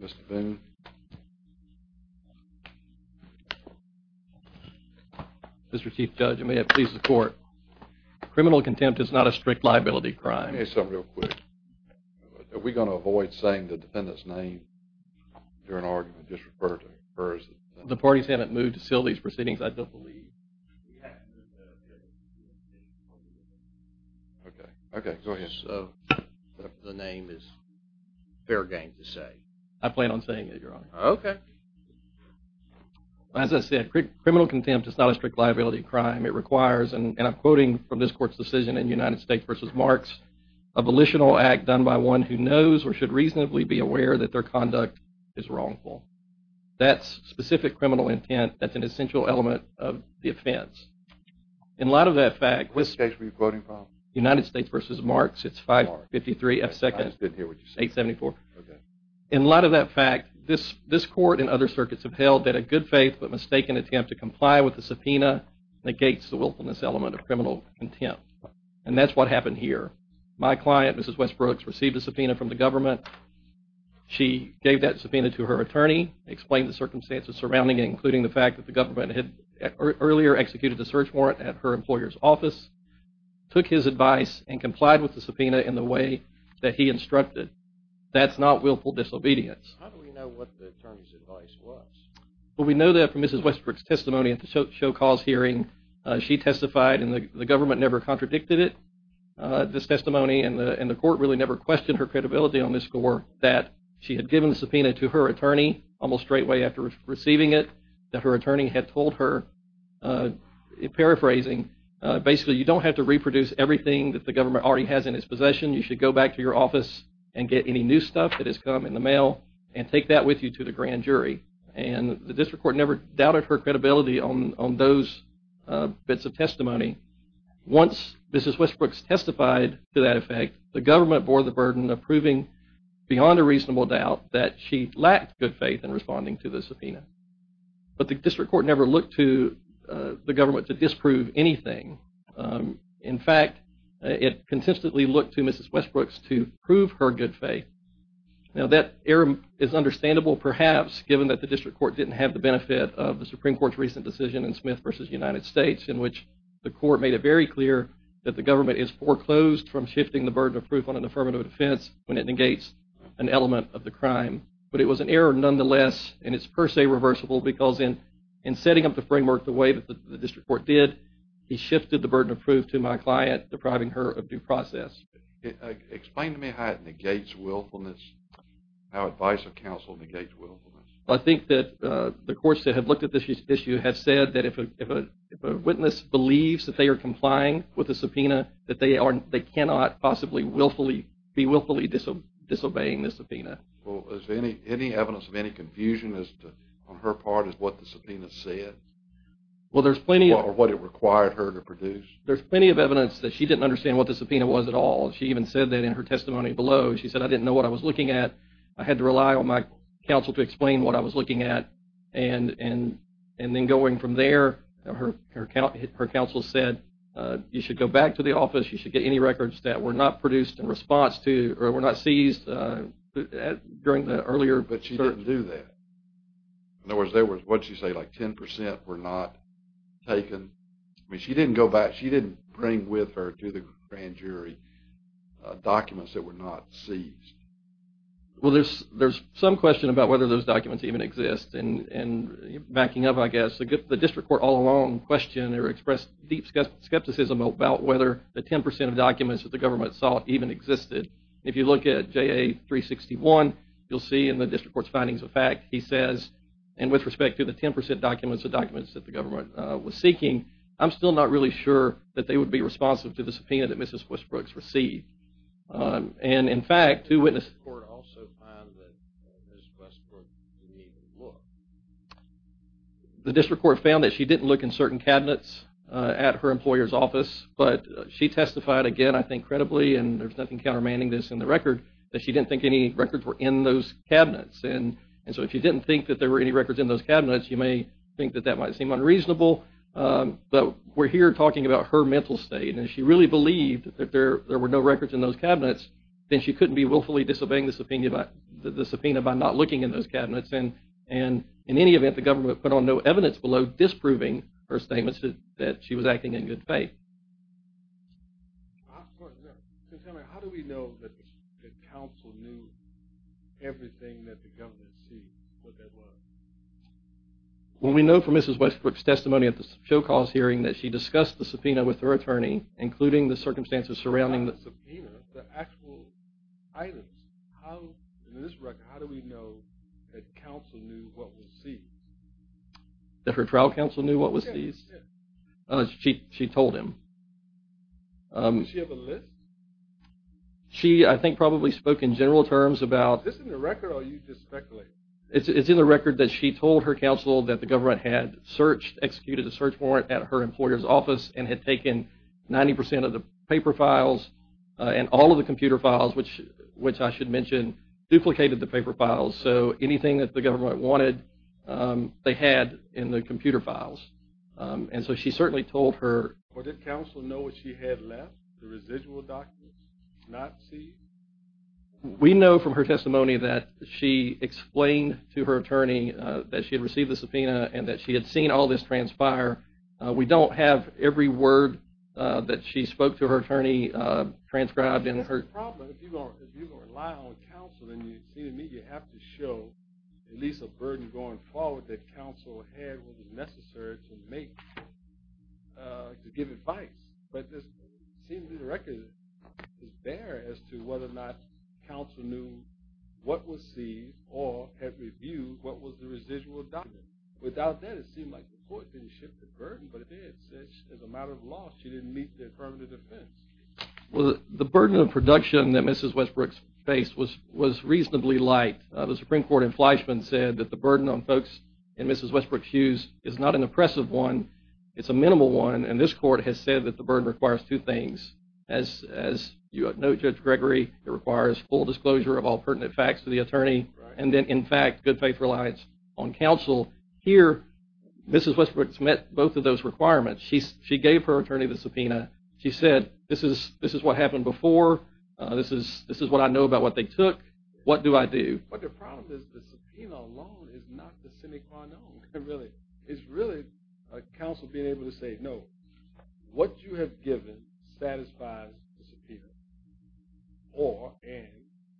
Mr. Boone. Mr. Chief Judge, I may have to please the court. Criminal contempt is not a strict liability crime. Let me say something real quick. Are we going to avoid saying the defendant's name during argument? Just refer to her as the defendant. The parties haven't moved to seal these proceedings, I don't believe. Okay, go ahead. So the name is fair game to say? I plan on saying it, Your Honor. Okay. As I said, criminal contempt is not a strict liability crime. It requires, and I'm quoting from this court's decision in United States v. Marks, a volitional act done by one who knows or should reasonably be aware that their conduct is wrongful. That specific criminal intent, that's an essential element of the offense. In light of that fact, United States v. Marks, it's 553F2nd874. In light of that fact, this court and other circuits have held that a good faith but mistaken attempt to comply with the subpoena negates the willfulness element of criminal contempt. And that's what happened here. My client, Mrs. Westbrooks, received a subpoena from the government. She gave that subpoena to her attorney, explained the circumstances surrounding it, including the fact that the government had earlier executed the search warrant at her employer's office, took his advice, and complied with the subpoena in the way that he instructed. That's not willful disobedience. How do we know what the attorney's advice was? Well, we know that from Mrs. Westbrooks' testimony at the show cause hearing. She testified, and the government never contradicted it. This testimony, and the court really never questioned her credibility on this score, that she had given the subpoena to her attorney almost straightway after receiving it, that her attorney had told her, paraphrasing, basically, you don't have to reproduce everything that the government already has in its possession. You should go back to your office and get any new stuff that has come in the mail and take that with you to the grand jury. And the district court never doubted her credibility on those bits of testimony. Once Mrs. Westbrooks testified to that effect, the government bore the burden of proving, beyond a reasonable doubt, that she lacked good faith in responding to the subpoena. But the district court never looked to the government to disprove anything. In fact, it consistently looked to Mrs. Westbrooks to prove her good faith. Now, that error is understandable, perhaps, given that the district court didn't have the benefit of the Supreme Court's recent decision in Smith v. United States, in which the court made it very clear that the government is foreclosed from shifting the burden of proof on an affirmative defense when it negates an element of the crime. But it was an error nonetheless, and it's per se reversible, because in setting up the framework the way that the district court did, he shifted the burden of proof to my client, depriving her of due process. Explain to me how it negates the burden of proof? Well, there's plenty of evidence that she didn't understand what the subpoena was at all. She even said that in her testimony below, she said, I didn't know what I was doing. And then going from there, her counsel said, you should go back to the office, you should get any records that were not produced in response to, or were not seized during the earlier... But she didn't do that. In other words, there was, what'd she say, like 10 percent were not taken. I mean, she didn't go back, she didn't bring with her to the grand jury documents that were not seized. Well, there's some question about whether those documents even exist, and backing up I guess, the district court all along questioned or expressed deep skepticism about whether the 10 percent of documents that the government sought even existed. If you look at JA 361, you'll see in the district court's findings of fact, he says, and with respect to the 10 percent documents, the documents that the government was seeking, I'm still not really sure that they would be responsive to the subpoena that Mrs. Westbrook's received. And in fact, two witnesses... The district court also found that Mrs. Westbrook didn't even look. The district court found that she didn't look in certain cabinets at her employer's office, but she testified again, I think credibly, and there's nothing countermanding this in the record, that she didn't think any records were in those cabinets. And so if you didn't think that there were any records in those cabinets, you may think that that might seem unreasonable, but we're here talking about her mental state, and she really believed that there were no records in those cabinets. And in any event, the government put on no evidence below disproving her statements that she was acting in good faith. How do we know that the council knew everything that the government sees, what that was? Well, we know from Mrs. Westbrook's testimony at the show cause hearing that she discussed the subpoena with her attorney, including the evidence. In this record, how do we know that council knew what was seen? That her trial counsel knew what was seen? She told him. Does she have a list? She, I think, probably spoke in general terms about... Is this in the record, or are you just speculating? It's in the record that she told her counsel that the government had searched, executed a search warrant at her employer's office, and had taken 90% of the paper files and all of the computer files, which I should mention, duplicated the paper files. So anything that the government wanted, they had in the computer files. And so she certainly told her... Well, did counsel know what she had left, the residual documents not seen? We know from her testimony that she explained to her attorney that she had received the subpoena and that she had seen all this transpire. We don't have every word that she spoke to her attorney transcribed in her... That's the problem. If you're going to rely on counsel, then you seem to me you have to show at least a burden going forward that counsel had what was necessary to make, to give advice. But it seems in the record, it's there as to whether or not council knew what was seen or had reviewed what was the residual document. Without that, it seemed like court didn't shift the burden, but it did. As a matter of law, she didn't meet the affirmative defense. Well, the burden of production that Mrs. Westbrook faced was reasonably light. The Supreme Court in Fleischman said that the burden on folks in Mrs. Westbrook's use is not an oppressive one. It's a minimal one. And this court has said that the burden requires two things. As you note, Judge Gregory, it requires full disclosure of all pertinent facts to the both of those requirements. She gave her attorney the subpoena. She said, this is what happened before. This is what I know about what they took. What do I do? But the problem is the subpoena alone is not the semi-quanone. It's really counsel being able to say, no, what you have given satisfies the subpoena. Or, and,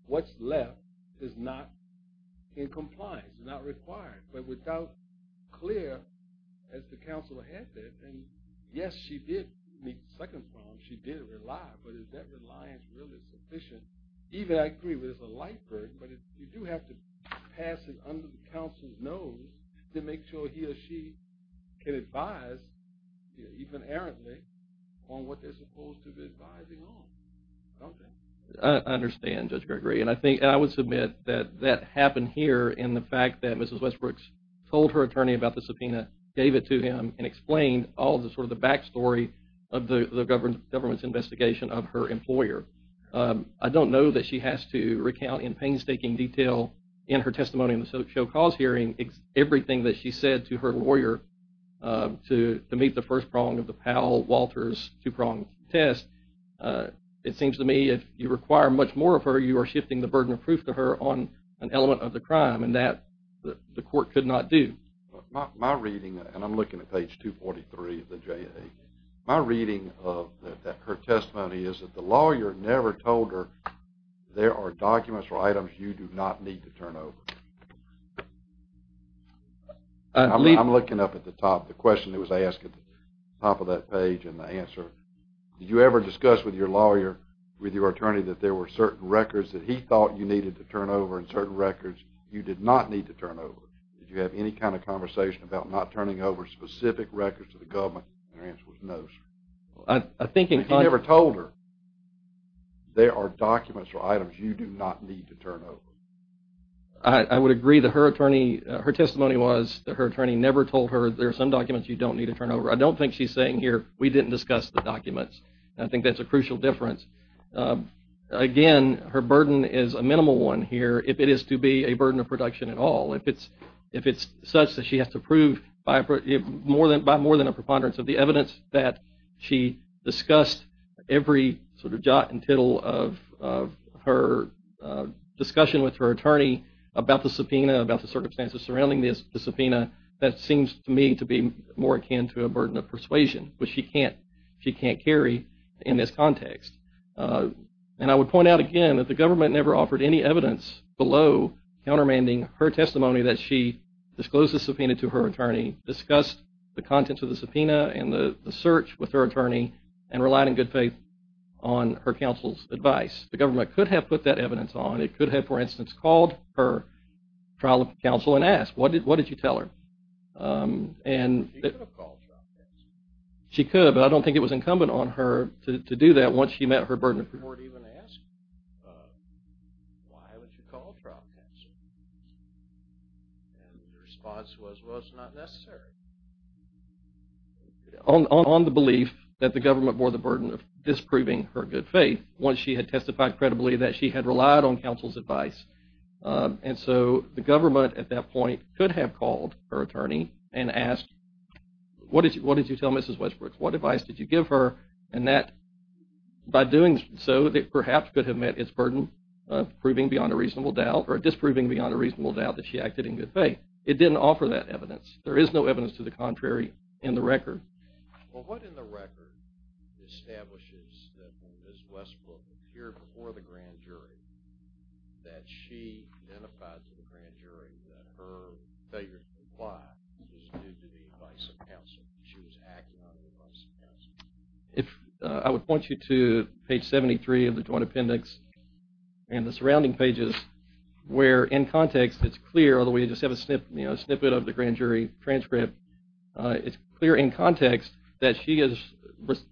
what's left is not in compliance, not required. But without clear, as the counselor had said, and yes, she did meet the second problem. She did rely, but is that reliance really sufficient? Even, I agree, there's a light burden, but you do have to pass it under the counsel's nose to make sure he or she can advise, even errantly, on what they're supposed to be advising on, don't they? I understand, Judge Gregory, and I think, and I would submit that that happened here in the fact that Mrs. Westbrooks told her attorney about the subpoena, gave it to him, and explained all the, sort of, the backstory of the government's investigation of her employer. I don't know that she has to recount in painstaking detail in her testimony in the show cause hearing everything that she said to her lawyer to meet the first prong of the Powell-Walters two-prong test. It seems to me, if you require much more of her, you are shifting the burden of proof to her on an element of the crime, and that the court could not do. My reading, and I'm looking at page 243 of the JA, my reading of her testimony is that the lawyer never told her, there are documents or items you do not need to turn over. I'm looking up at the question that was asked at the top of that page and the answer. Did you ever discuss with your lawyer, with your attorney, that there were certain records that he thought you needed to turn over, and certain records you did not need to turn over? Did you have any kind of conversation about not turning over specific records to the government? And her answer was no, sir. I think in- But you never told her, there are documents or items you do not need to turn over. I would agree that her testimony was that her attorney never told her, there are some documents you don't need to turn over. I don't think she's saying here, we didn't discuss the documents. I think that's a crucial difference. Again, her burden is a minimal one here, if it is to be a burden of production at all. If it's such that she has to prove by more than a preponderance of the about the subpoena, about the circumstances surrounding the subpoena, that seems to me to be more akin to a burden of persuasion, which she can't carry in this context. And I would point out again that the government never offered any evidence below countermanding her testimony that she disclosed the subpoena to her attorney, discussed the contents of the subpoena and the search with her attorney, and relied in good faith on her counsel's advice. The government could have put that evidence on, it could have, for instance, called her trial counsel and asked, what did you tell her? She could have called trial counsel. She could, but I don't think it was incumbent on her to do that once she met her burden of proof. You weren't even asked, why would you call trial counsel? And the response was, well, it's not necessary. On the belief that the government bore the burden of disproving her good faith, once she had testified credibly that she had relied on counsel's advice. And so the government at that point could have called her attorney and asked, what did you tell Mrs. Westbrooks? What advice did you give her? And that, by doing so, perhaps could have met its burden of proving beyond a reasonable doubt or disproving beyond a reasonable doubt that she acted in good faith. It didn't offer that evidence. There is no evidence to the contrary in the record. Well, what in the record establishes that when Ms. Westbrook appeared before the grand jury that she identified to the grand jury that her failure to comply was due to the advice of counsel, she was acting on the advice of counsel? I would point you to page 73 of the joint appendix and the surrounding pages, where in context it's clear, although we just have a snippet of the grand jury transcript, it's clear in context that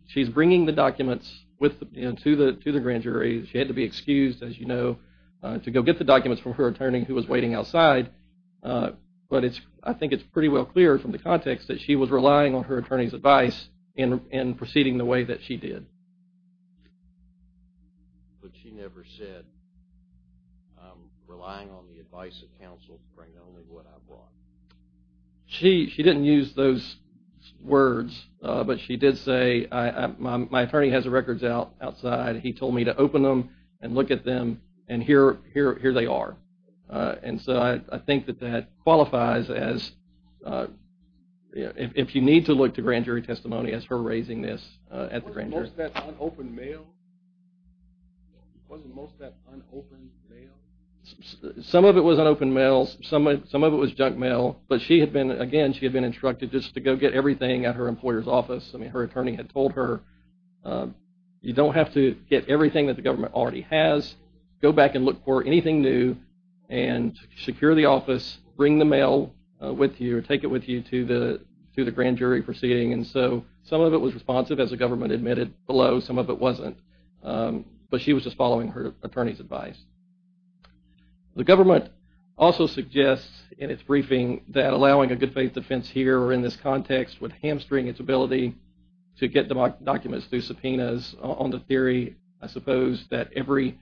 she's bringing the documents to the grand jury. She had to be excused, as you know, to go get the documents from her attorney, who was waiting outside. But I think it's pretty well clear from the context that she was relying on her attorney's advice in proceeding the way that she did. But she never said, I'm relying on the advice of counsel to bring only what I brought. She didn't use those words, but she did say, my attorney has the records outside. He told me to open them and look at them, and here they are. And so I think that that qualifies as, if you need to look to grand jury testimony, as her raising this at the grand jury. Wasn't most of that unopened mail? Some of it was unopened mail. Some of it was junk mail. But she had been, again, she had been instructed just to go get everything at her employer's office. I mean, her attorney had told her, you don't have to get everything that the government already has. Go back and look for anything new and secure the office, bring the mail with you, or take it with you to the grand jury proceeding. And so some of it was responsive, as the government admitted below. Some of it wasn't. But she was just following her attorney's advice. The government also suggests in its briefing that allowing a good faith defense here or in this context would hamstring its ability to get documents through subpoenas. On the theory, I suppose, that every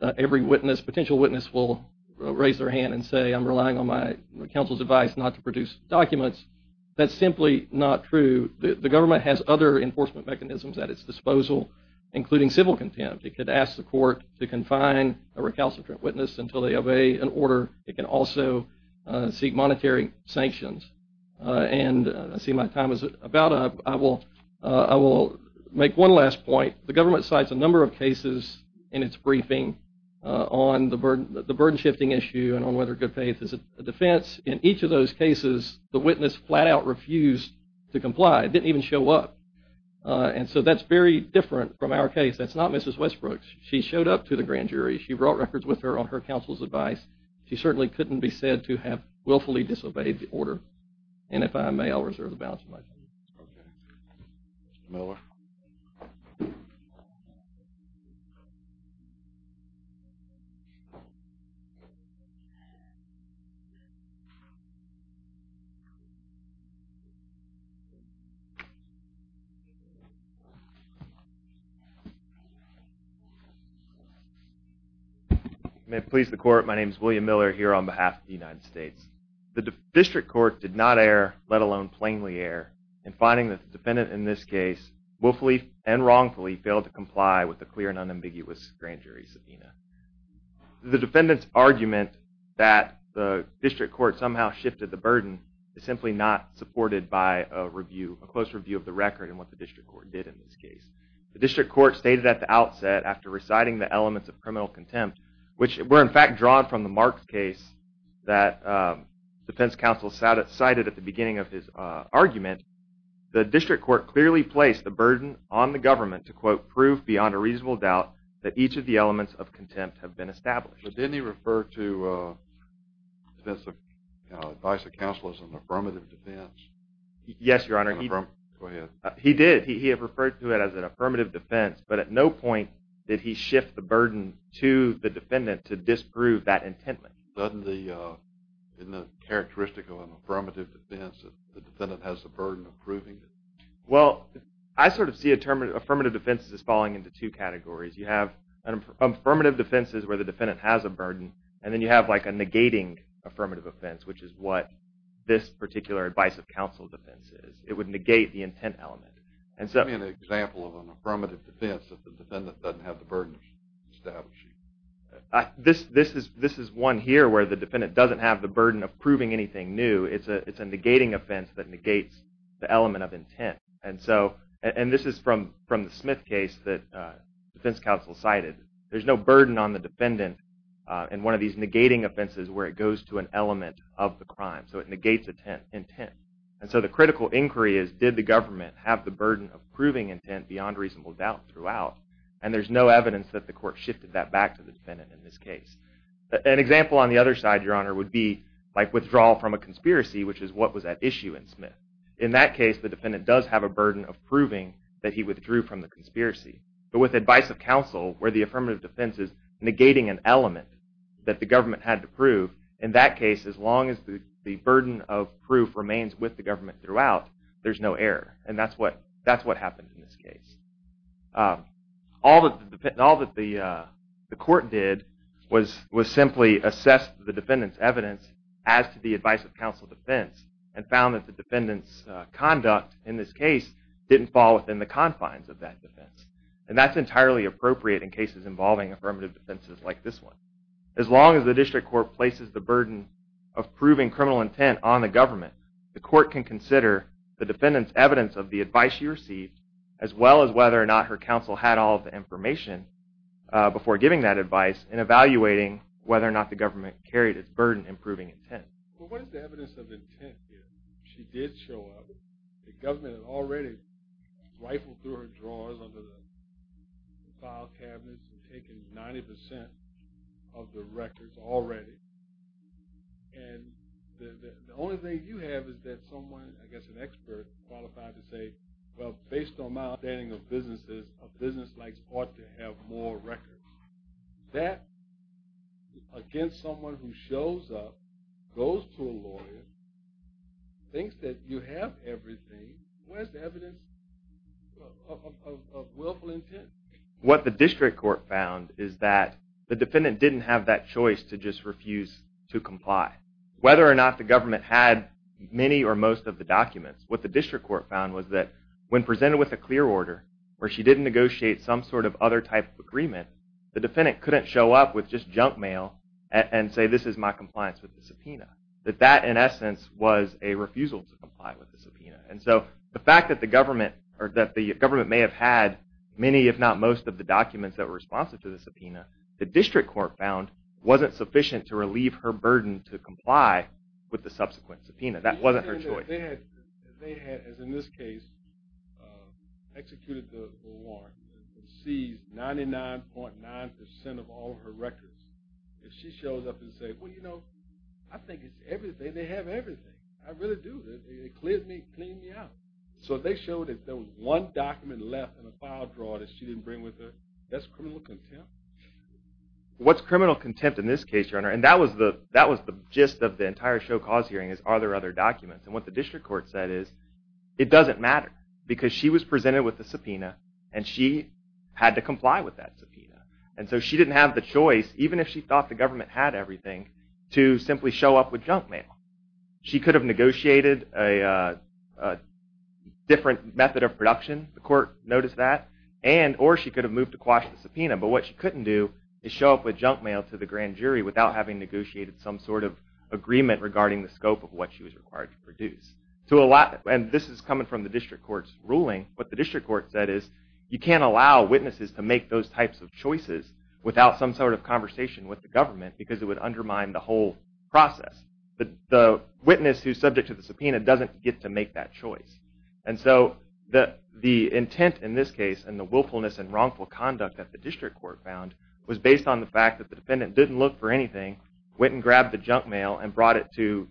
witness, potential witness, will raise their hand and say, I'm relying on my counsel's advice not to produce documents. That's simply not true. The government has other enforcement mechanisms at its disposal, including civil contempt. It asks the court to confine a recalcitrant witness until they obey an order. It can also seek monetary sanctions. And I see my time is about up. I will make one last point. The government cites a number of cases in its briefing on the burden shifting issue and on whether good faith is a defense. In each of those cases, the witness flat out refused to comply. It didn't from our case. That's not Mrs. Westbrook's. She showed up to the grand jury. She brought records with her on her counsel's advice. She certainly couldn't be said to have willfully disobeyed the order. And if I may, I'll reserve the balance of my time. Okay. Miller. You may please the court. My name is William Miller here on behalf of the United States. The district court did not err, let alone plainly err, in finding that the defendant in this case willfully and wrongfully failed to comply with the clear and unambiguous grand jury subpoena. The defendant's argument that the district court somehow shifted the burden is simply not supported by a close review of the record and what the district court did in this case. The district court stated at the outset after reciting the elements of criminal contempt, which were in fact drawn from the Marks case that defense counsel cited at the beginning of his argument, the district court clearly placed the burden on the government to quote, prove beyond a reasonable doubt that each of the elements of contempt have been established. Didn't he refer to the advice of counsel as an affirmative defense? Yes, your honor. He did. He referred to it as an affirmative defense, but at no point did he shift the burden to the defendant to disprove that intent. Doesn't the, in the characteristic of an affirmative defense, the defendant has the burden of proving it? Well, I sort of see affirmative defenses as falling into two categories. You have an affirmative defense that has a burden, and then you have like a negating affirmative offense, which is what this particular advice of counsel defense is. It would negate the intent element. Give me an example of an affirmative defense that the defendant doesn't have the burden of establishing. This is one here where the defendant doesn't have the burden of proving anything new. It's a negating offense that negates the element of intent. And so, and this is from the Smith case that defense counsel cited. There's no burden on the defendant in one of these negating offenses where it goes to an element of the crime. So it negates intent. And so the critical inquiry is, did the government have the burden of proving intent beyond reasonable doubt throughout? And there's no evidence that the court shifted that back to the defendant in this case. An example on the other side, your honor, would be like withdrawal from a conspiracy, which is what was at issue in Smith. In that case, the defendant does have a burden of proving that he withdrew from the conspiracy. But with advice of counsel, where the affirmative defense is negating an element that the government had to prove, in that case, as long as the burden of proof remains with the government throughout, there's no error. And that's what happened in this case. All that the court did was simply assess the defendant's evidence as to the advice of counsel defense and found that the defendant's conduct in this case didn't fall within the confines of that defense. And that's entirely appropriate in cases involving affirmative defenses like this one. As long as the district court places the burden of proving criminal intent on the government, the court can consider the defendant's evidence of the advice she received as well as whether or not her counsel had all of the information before giving that advice in evaluating whether or not the government carried its burden in proving intent. What is the evidence of intent here? She did show up. The government had already rifled through her drawers under the file cabinets and taken 90% of the records already. And the only thing you have is that someone, I guess an expert, qualified to say, well, based on my understanding of businesses, a business like this ought to have more records. That, against someone who shows up, goes to a lawyer, thinks that you have everything, where's the evidence of willful intent? What the district court found is that the defendant didn't have that choice to just refuse to comply. Whether or not the government had many or most of the documents, what the district court found was that when presented with a clear order where she didn't negotiate some sort of other type of agreement, the defendant couldn't show up with just junk mail and say this is my compliance with the subpoena. That that, in essence, was a refusal to comply with the subpoena. And so the fact that the government may have had many if not most of the documents that were responsive to the subpoena, the district court found wasn't sufficient to relieve her burden to comply with the subsequent subpoena. That wasn't her choice. They had, as in this case, executed the warrant and seized 99.9% of all of her records. If she shows up and says, well, you know, I think it's everything, they have everything. I really do. They cleared me, cleaned me out. So if they showed that there was one document left in a file drawer that she didn't bring with her, that's criminal contempt? What's criminal contempt in this case, Your Honor? And that was the that was the gist of the entire show cause hearing is are there other documents? And what the district court said is it doesn't matter because she was presented with the subpoena and she had to comply with that subpoena. And so she didn't have the choice, even if she thought the government had everything, to simply show up with junk mail. She could have negotiated a different method of production. The court noticed that. And or she could have moved to quash the subpoena. But what she couldn't do is show up with junk mail to the grand jury without having negotiated some sort of agreement regarding the scope of what she was required to produce. So a lot, and this is coming from the district court's ruling, what the district court said is you can't allow witnesses to make those types of choices without some sort of conversation with the government because it would undermine the whole process. The witness who's subject to the subpoena doesn't get to make that choice. And so the intent in this case and the willfulness and wrongful conduct that the district court found was based on the fact that the defendant didn't look for anything, went and grabbed the junk mail, and brought it to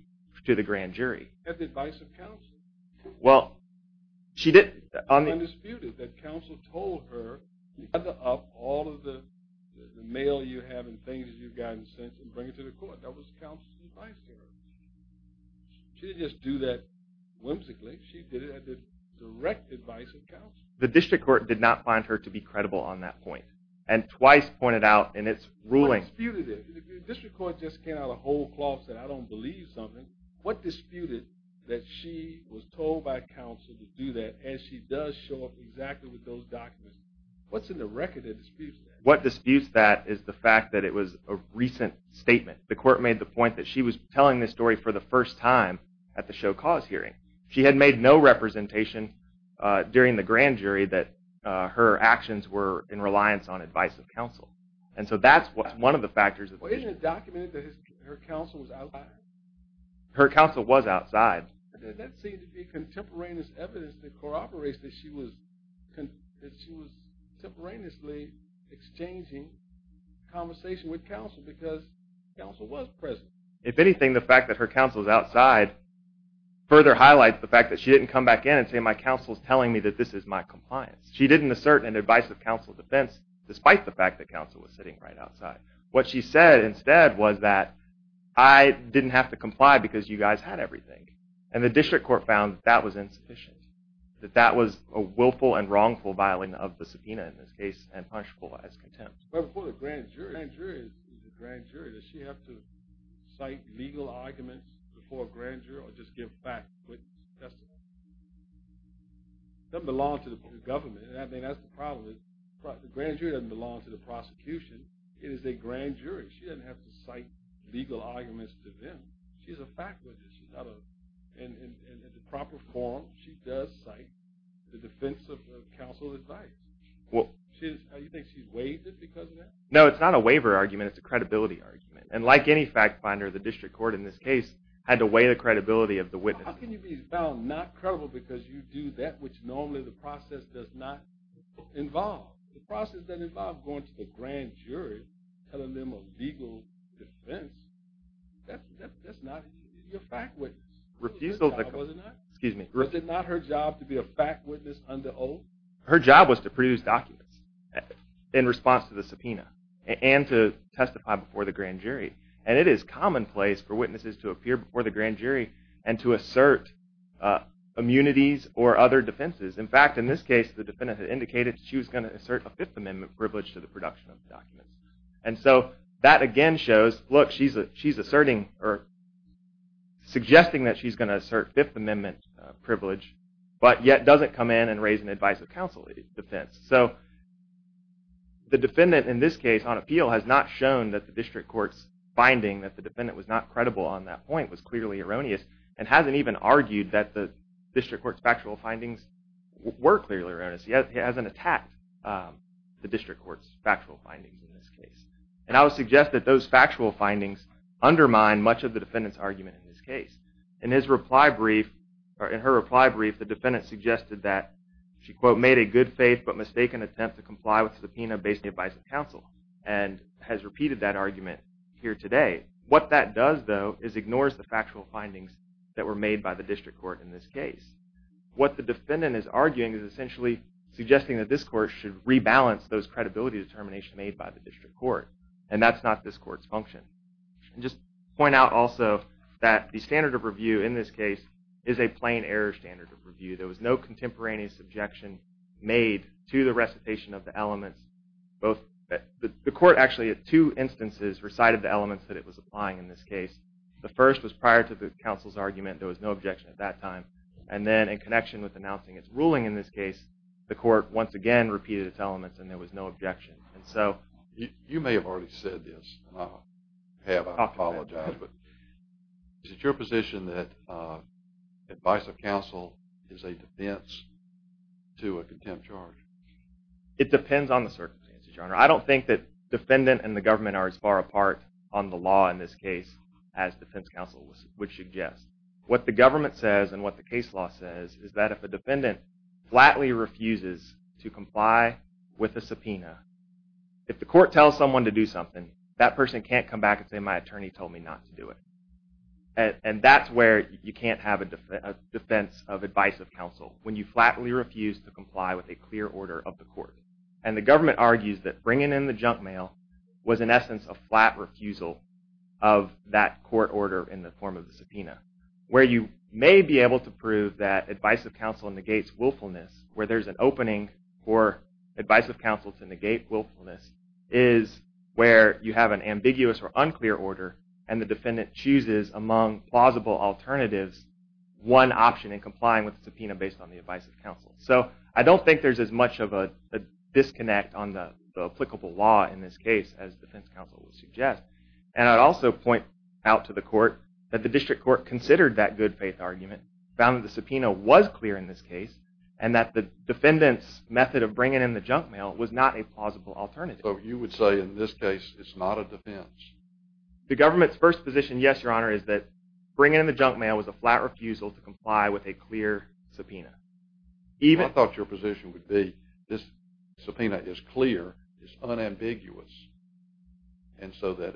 the grand jury. At the advice of counsel. Well, she didn't. Undisputed. That counsel told her to gather up all of the mail you have and things you've gotten sent and bring it to the court. That was counsel's advice to her. She didn't just do that whimsically. She did it at the direct advice of counsel. The district court did not find her to be credible on that point. And twice pointed out in its ruling. What disputed it? The district court just came out of the whole closet. I don't believe something. What disputed that she was told by counsel to do that and she does show up exactly with those documents? What's in the record that disputes that? What disputes that is the fact that it was a recent statement. The court made the point that she was telling this story for the first time at the show cause hearing. She had made no representation during the grand jury that her actions were in reliance on advice of counsel. And so that's one of the factors. Well, isn't it documented that her counsel was outside? Her counsel was outside. And that seems to be contemporaneous evidence that corroborates that she was contemporaneously exchanging conversation with counsel because counsel was present. If anything, the fact that her counsel was outside further highlights the fact that she didn't come back in and say my counsel is telling me that this is my compliance. She didn't assert an advice of counsel defense despite the fact that counsel was sitting right outside. What she said instead was that I didn't have to comply because you guys had everything. And the district court found that that was insufficient. That that was a willful and wrongful filing of the subpoena in this case and punishable as contempt. But for the grand jury, does she have to cite legal arguments before grand jury or just give testimony? It doesn't belong to the government. And I mean, that's the problem is the grand jury doesn't belong to the prosecution. It is a grand jury. She doesn't have to cite legal arguments to them. She's a fact witness. She's not a proper form. She does cite the defense of counsel's advice. Well, do you think she's waived it because of that? No, it's not a waiver argument. It's a credibility argument. And like any fact finder, the district court in this case had to weigh the credibility of the witness. How can you be found not credible because you do that, which normally the process does not involve? The process doesn't involve going to the grand jury, telling them a legal defense. That's not your fact witness. Refusal, excuse me. Was it not her job to be a fact witness under oath? Her job was to produce documents in response to the subpoena and to testify before the grand jury and to assert immunities or other defenses. In fact, in this case, the defendant had indicated she was going to assert a Fifth Amendment privilege to the production of the documents. And so that again shows, look, she's asserting or suggesting that she's going to assert Fifth Amendment privilege, but yet doesn't come in and raise an advice of counsel defense. So the defendant in this case on appeal has not shown that the district court's finding that the defendant was not credible on that point was clearly erroneous and hasn't even argued that the district court's factual findings were clearly erroneous. He hasn't attacked the district court's factual findings in this case. And I would suggest that those factual findings undermine much of the defendant's argument in this case. In his reply brief or in her reply brief, the defendant suggested that she, quote, made a good faith but mistaken attempt to comply with subpoena based on the advice of counsel and has repeated that argument here today. What that does, though, is ignores the factual findings that were made by the district court in this case. What the defendant is arguing is essentially suggesting that this court should rebalance those credibility determinations made by the district court. And that's not this court's function. And just point out also that the standard of review in this case is a plain error standard of review. There was no contemporaneous objection made to the recitation of the elements, both the court actually at two instances recited the elements that it was applying in this case. The first was prior to the counsel's argument. There was no objection at that time. And then in connection with announcing its ruling in this case, the court once again repeated its elements and there was no objection. And so you may have already said this. I have. I apologize. But is it your position that advice of counsel is a defense to a contempt charge? It depends on the circumstances, Your Honor. I don't think that defendant and the government are as far apart on the law in this case as defense counsel would suggest. What the government says and what the case law says is that if a defendant flatly refuses to comply with a subpoena, if the court tells someone to do something, that person can't come back and say, my attorney told me not to do it. And that's where you can't have a defense of advice of counsel, when you flatly refuse to comply with a clear order of the court. And the government argues that bringing in the junk mail was, in essence, a flat refusal of that court order in the form of the subpoena. Where you may be able to prove that advice of counsel negates willfulness, where there's an opening for advice of counsel to negate willfulness, is where you have an ambiguous or unclear order and the defendant chooses among plausible alternatives one option in complying with the subpoena based on the advice of counsel. So I don't think there's as much of a disconnect on the applicable law in this case as defense counsel would suggest. And I'd also point out to the court that the district court considered that good faith argument, found that the subpoena was clear in this case, and that the defendant's method of bringing in the junk mail was not a plausible alternative. So you would say in this case it's not a defense? The government's first position, yes, your honor, is that bringing in the junk mail was a flat refusal to comply with a clear subpoena. I thought your position would be this subpoena is clear, it's unambiguous, and so that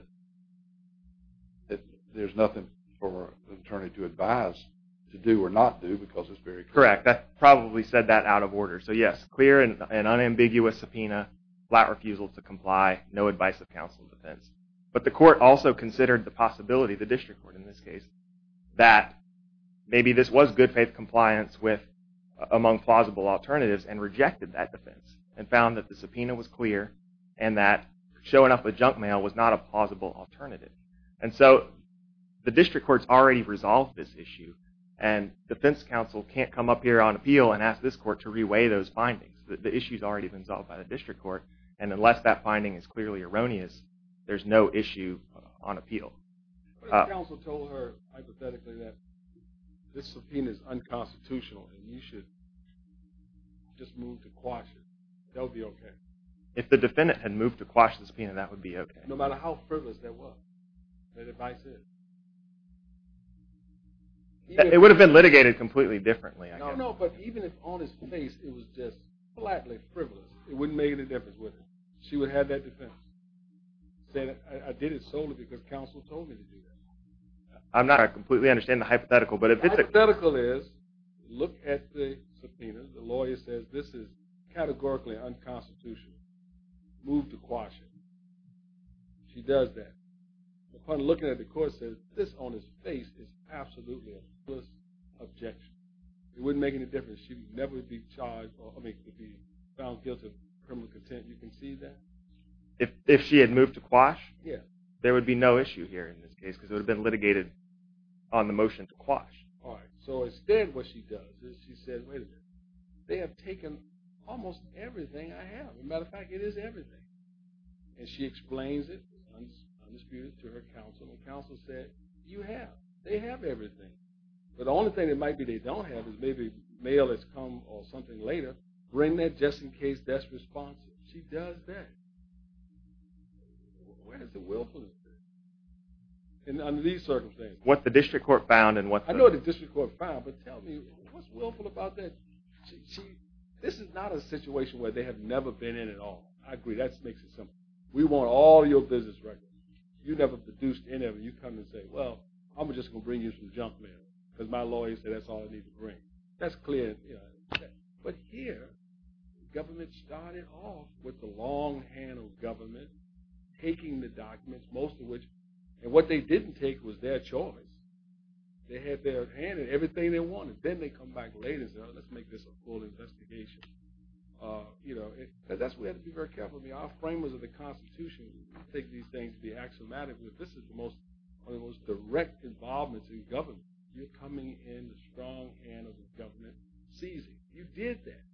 there's nothing for an attorney to advise to do or not do because it's very clear. Correct. That probably said that out of order. So yes, clear and unambiguous subpoena, flat refusal to comply, no advice of counsel defense. But the court also considered the possibility, the district court in this case, that maybe this was good faith compliance among plausible alternatives and rejected that defense and found that the subpoena was clear and that showing up with junk mail was not a plausible alternative. And so the district court's already resolved this issue and defense counsel can't come up here on appeal and ask this court to reweigh those findings. The issue's already been solved by the district court and unless that finding is clearly erroneous there's no issue on appeal. Counsel told her hypothetically that this subpoena is unconstitutional and you should just move to quash it. That would be OK. If the defendant had moved to quash the subpoena that would be OK. No matter how frivolous that was, that advice is. It would have been litigated completely differently. No, no, but even if on his face it was just flatly frivolous it wouldn't make any difference would it? She would have that defense. Said I did it solely because counsel told me to do that. I'm not completely understanding the hypothetical but if it's a Hypothetical is look at the subpoena. The lawyer says this is categorically unconstitutional. Move to quash it. She does that. Upon looking at the court says this on his face is absolutely a frivolous objection. It wouldn't make any difference. She would never be charged or I mean be found guilty of criminal contempt. You can see that? If she had moved to quash there would be no issue here in this case because it would have been litigated on the motion to quash. All right, so instead what she does is she says wait a minute they have taken almost everything I have. As a matter of fact it is everything and she explains it undisputed to her counsel and counsel said you have. They have everything but the only thing that might be they don't have is maybe mail has come or something later. Bring that just in case that's responsive. She does that. Where is the willfulness? And under these circumstances. What the district court found and what. I know what the district court found but tell me what's willful about that? This is not a situation where they have never been in at all. I agree that makes it simple. We want all your business records. You never produced any of it. You come and say well I'm just going to bring you some junk mail because my lawyer said that's all I need to bring. That's clear. But here the government started off with the long hand of government taking the documents most of which and what they didn't take was their choice. They had their hand in everything they wanted. Then they come back later and say let's make this a full investigation. We have to be very careful. Our framers of the constitution take these things to be axiomatic. This is one of the most direct involvements in government. You're coming in the strong hand of the government seizing. You did that.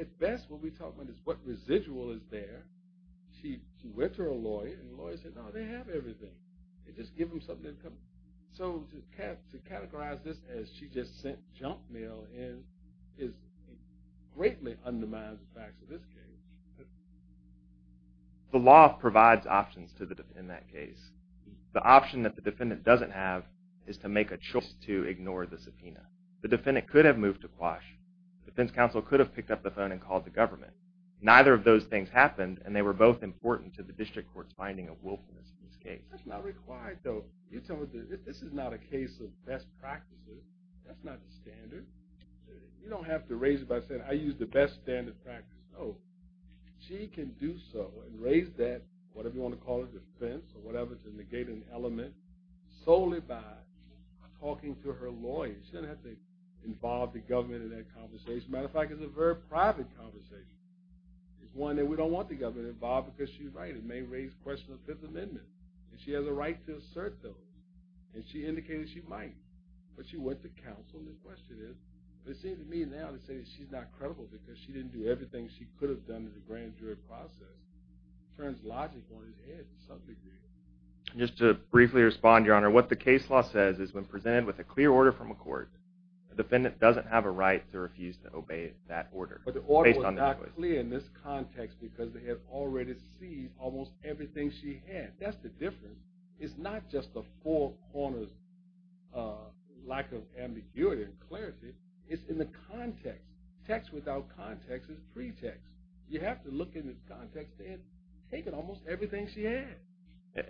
At best what we talk about is what residual is there. She went to her lawyer and the lawyer said no they have everything. They just give them something. So to categorize this as she just sent junk mail in is greatly undermines the facts of this case. The law provides options in that case. The option that the defendant doesn't have is to make a choice to ignore the subpoena. The defendant could have moved to quash. The defense counsel could have picked up the phone and called the government. Neither of those things happened and they were both important to the district court's finding of wilfulness in this case. That's not required though. You tell me this is not a case of best practices. That's not the standard. You don't have to raise it by saying I use the best standard practice. She can do so and raise that whatever you want to call it defense or whatever to negate an element solely by talking to her lawyer. She doesn't have to involve the government in that conversation. As a matter of fact it's a very private conversation. It's one that we don't want the government involved because she's right it may raise questions of the fifth amendment and she has a right to assert those and she indicated she might. But she went to counsel and the question is it seems to me now that she's not credible because she didn't do everything she could have done in the grand jury process. It turns logic on its head to some degree. Just to briefly respond your honor what the case law says is when presented with a clear order from a court the defendant doesn't have a right to refuse to obey that order. But the order was not clear in this context because they had already seen almost everything she had. That's the difference. It's not just the four corners lack of ambiguity and clarity. It's in the context. Text without context is pretext. You have to look in the context and take in almost everything she had.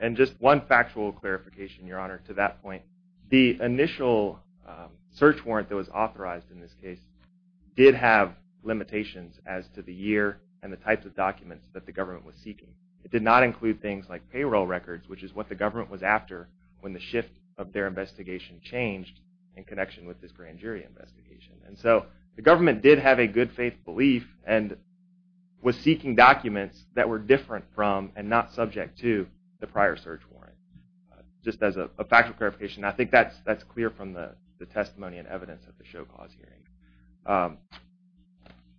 And just one factual clarification your honor to that point the initial search warrant that was authorized in this case did have limitations as to the year and the types of documents that the government was seeking. It did not include things like payroll records which is what the government was after when the shift of their investigation changed in connection with this grand jury investigation. And so the government did have a good faith belief and was seeking documents that were different from and not subject to the prior search warrant. Just as a factual clarification I think that's clear from the testimony and evidence at the show cause hearing.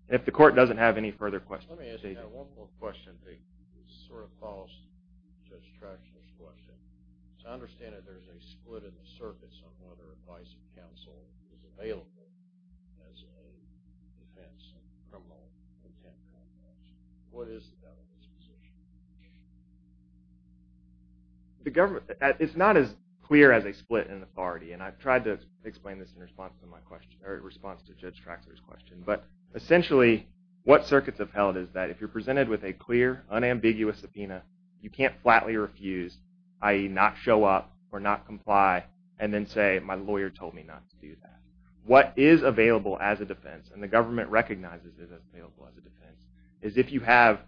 If the court doesn't have any further questions. Let me ask you one more question that sort of follows Judge Tratchner's question. To understand that there's a split in the circuits on whether advice and counsel is available as a defense in a criminal intent context. What is the government's position? It's not as clear as a split in authority and I've tried to explain this in response to my question or response to Judge Tratchner's question. But essentially what circuits have held is that if you're presented with a clear unambiguous subpoena you can't flatly refuse i.e. not show up or not comply and then say my lawyer told me not to do that. What is available as a defense and the government recognizes is available as a defense is if you have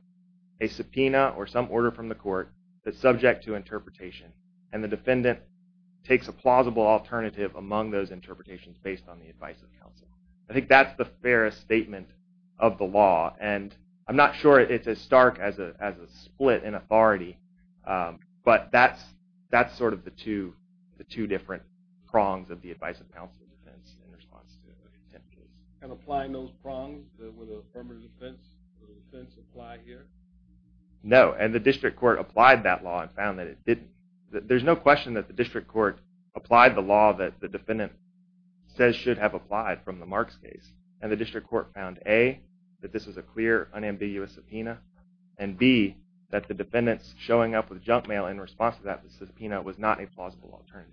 a subpoena or some order from the court that's subject to interpretation and the defendant takes a plausible alternative among those interpretations based on the advice of counsel. I think that's the fairest statement of the law and I'm not sure it's as stark as a split in authority but that's sort of the two different prongs of the advice and counsel defense in response to an intent case. And applying those prongs with affirmative defense, would the defense apply here? No, and the district court applied that law and found that it didn't. There's no question that the district court applied the law that the defendant says should have applied from the Marks case and the district court found A, that this is a clear unambiguous subpoena and B, that the defendant's showing up with junk mail in response to that subpoena was not a plausible alternative.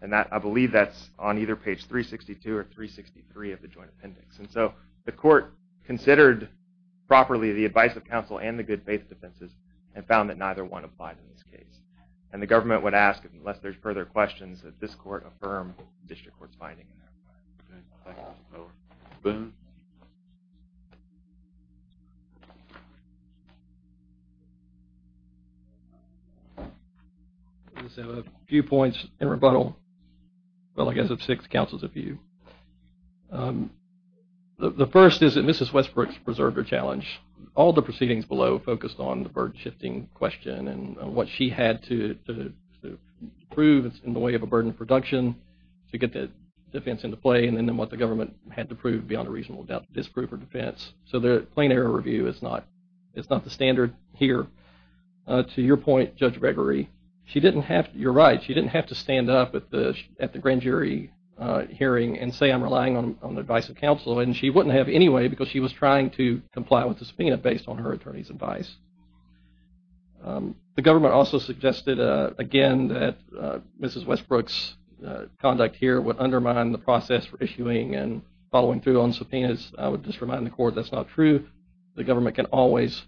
And I believe that's on either page 362 or 363 of the joint appendix. And so the court considered properly the advice of counsel and the good faith defenses and found that neither one applied in this case. And the government would ask, unless there's further questions, that this court affirm district court's finding. OK, thank you, Mr. Miller. Boone? I just have a few points in rebuttal. Well, I guess I have six counsels of view. The first is that Mrs. Westbrook's preserved her challenge. All the proceedings below focused on the burden shifting question and what she had to prove in the way of a burden of production to get the defense into play and then what the government had to prove beyond a reasonable doubt to disprove her defense. So the plain error review is not the standard here. To your point, Judge Gregory, you're right. She didn't have to stand up at the grand jury hearing and say, I'm relying on the advice of counsel. And she wouldn't have anyway because she was trying to comply with the subpoena based on her attorney's advice. The government also suggested, again, that Mrs. Westbrook's conduct here would undermine the process for issuing and following through on subpoenas. I would just remind the court that's not true. The government can always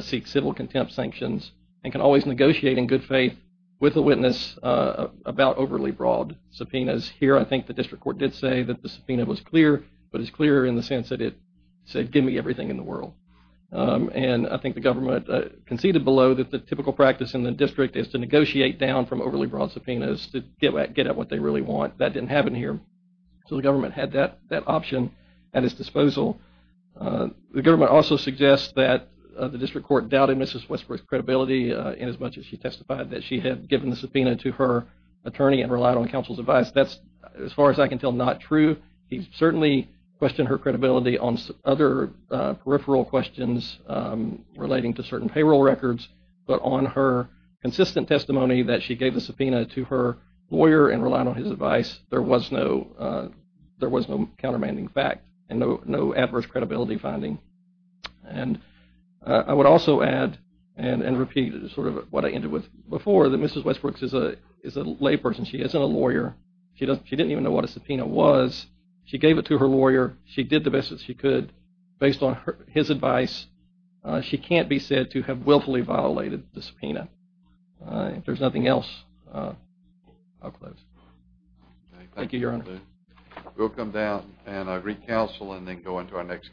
seek civil contempt sanctions and can always negotiate in good faith with a witness about overly broad subpoenas. Here, I think the district court did say that the subpoena was clear, but it's clearer in the sense that it said, give me everything in the world. And I think the government conceded below that the typical practice in the district is to negotiate down from overly broad subpoenas to get at what they really want. That didn't happen here. So the government had that option at its disposal. The government also suggests that the district court doubted Mrs. Westbrook's credibility in as much as she testified that she had given the subpoena to her attorney and relied on counsel's advice. That's, as far as I can tell, not true. He certainly questioned her credibility on other peripheral questions relating to certain payroll records, but on her consistent testimony that she gave the subpoena to her lawyer and relied on his advice, there was no countermanding fact and no adverse credibility finding. And I would also add and repeat sort of what I ended with before, that Mrs. Westbrook is She isn't a lawyer. She didn't even know what a subpoena was. She gave it to her lawyer. She did the best that she could. Based on his advice, she can't be said to have willfully violated the subpoena. If there's nothing else, I'll close. Thank you, Your Honor. We'll come down and recounsel and then go into our next case.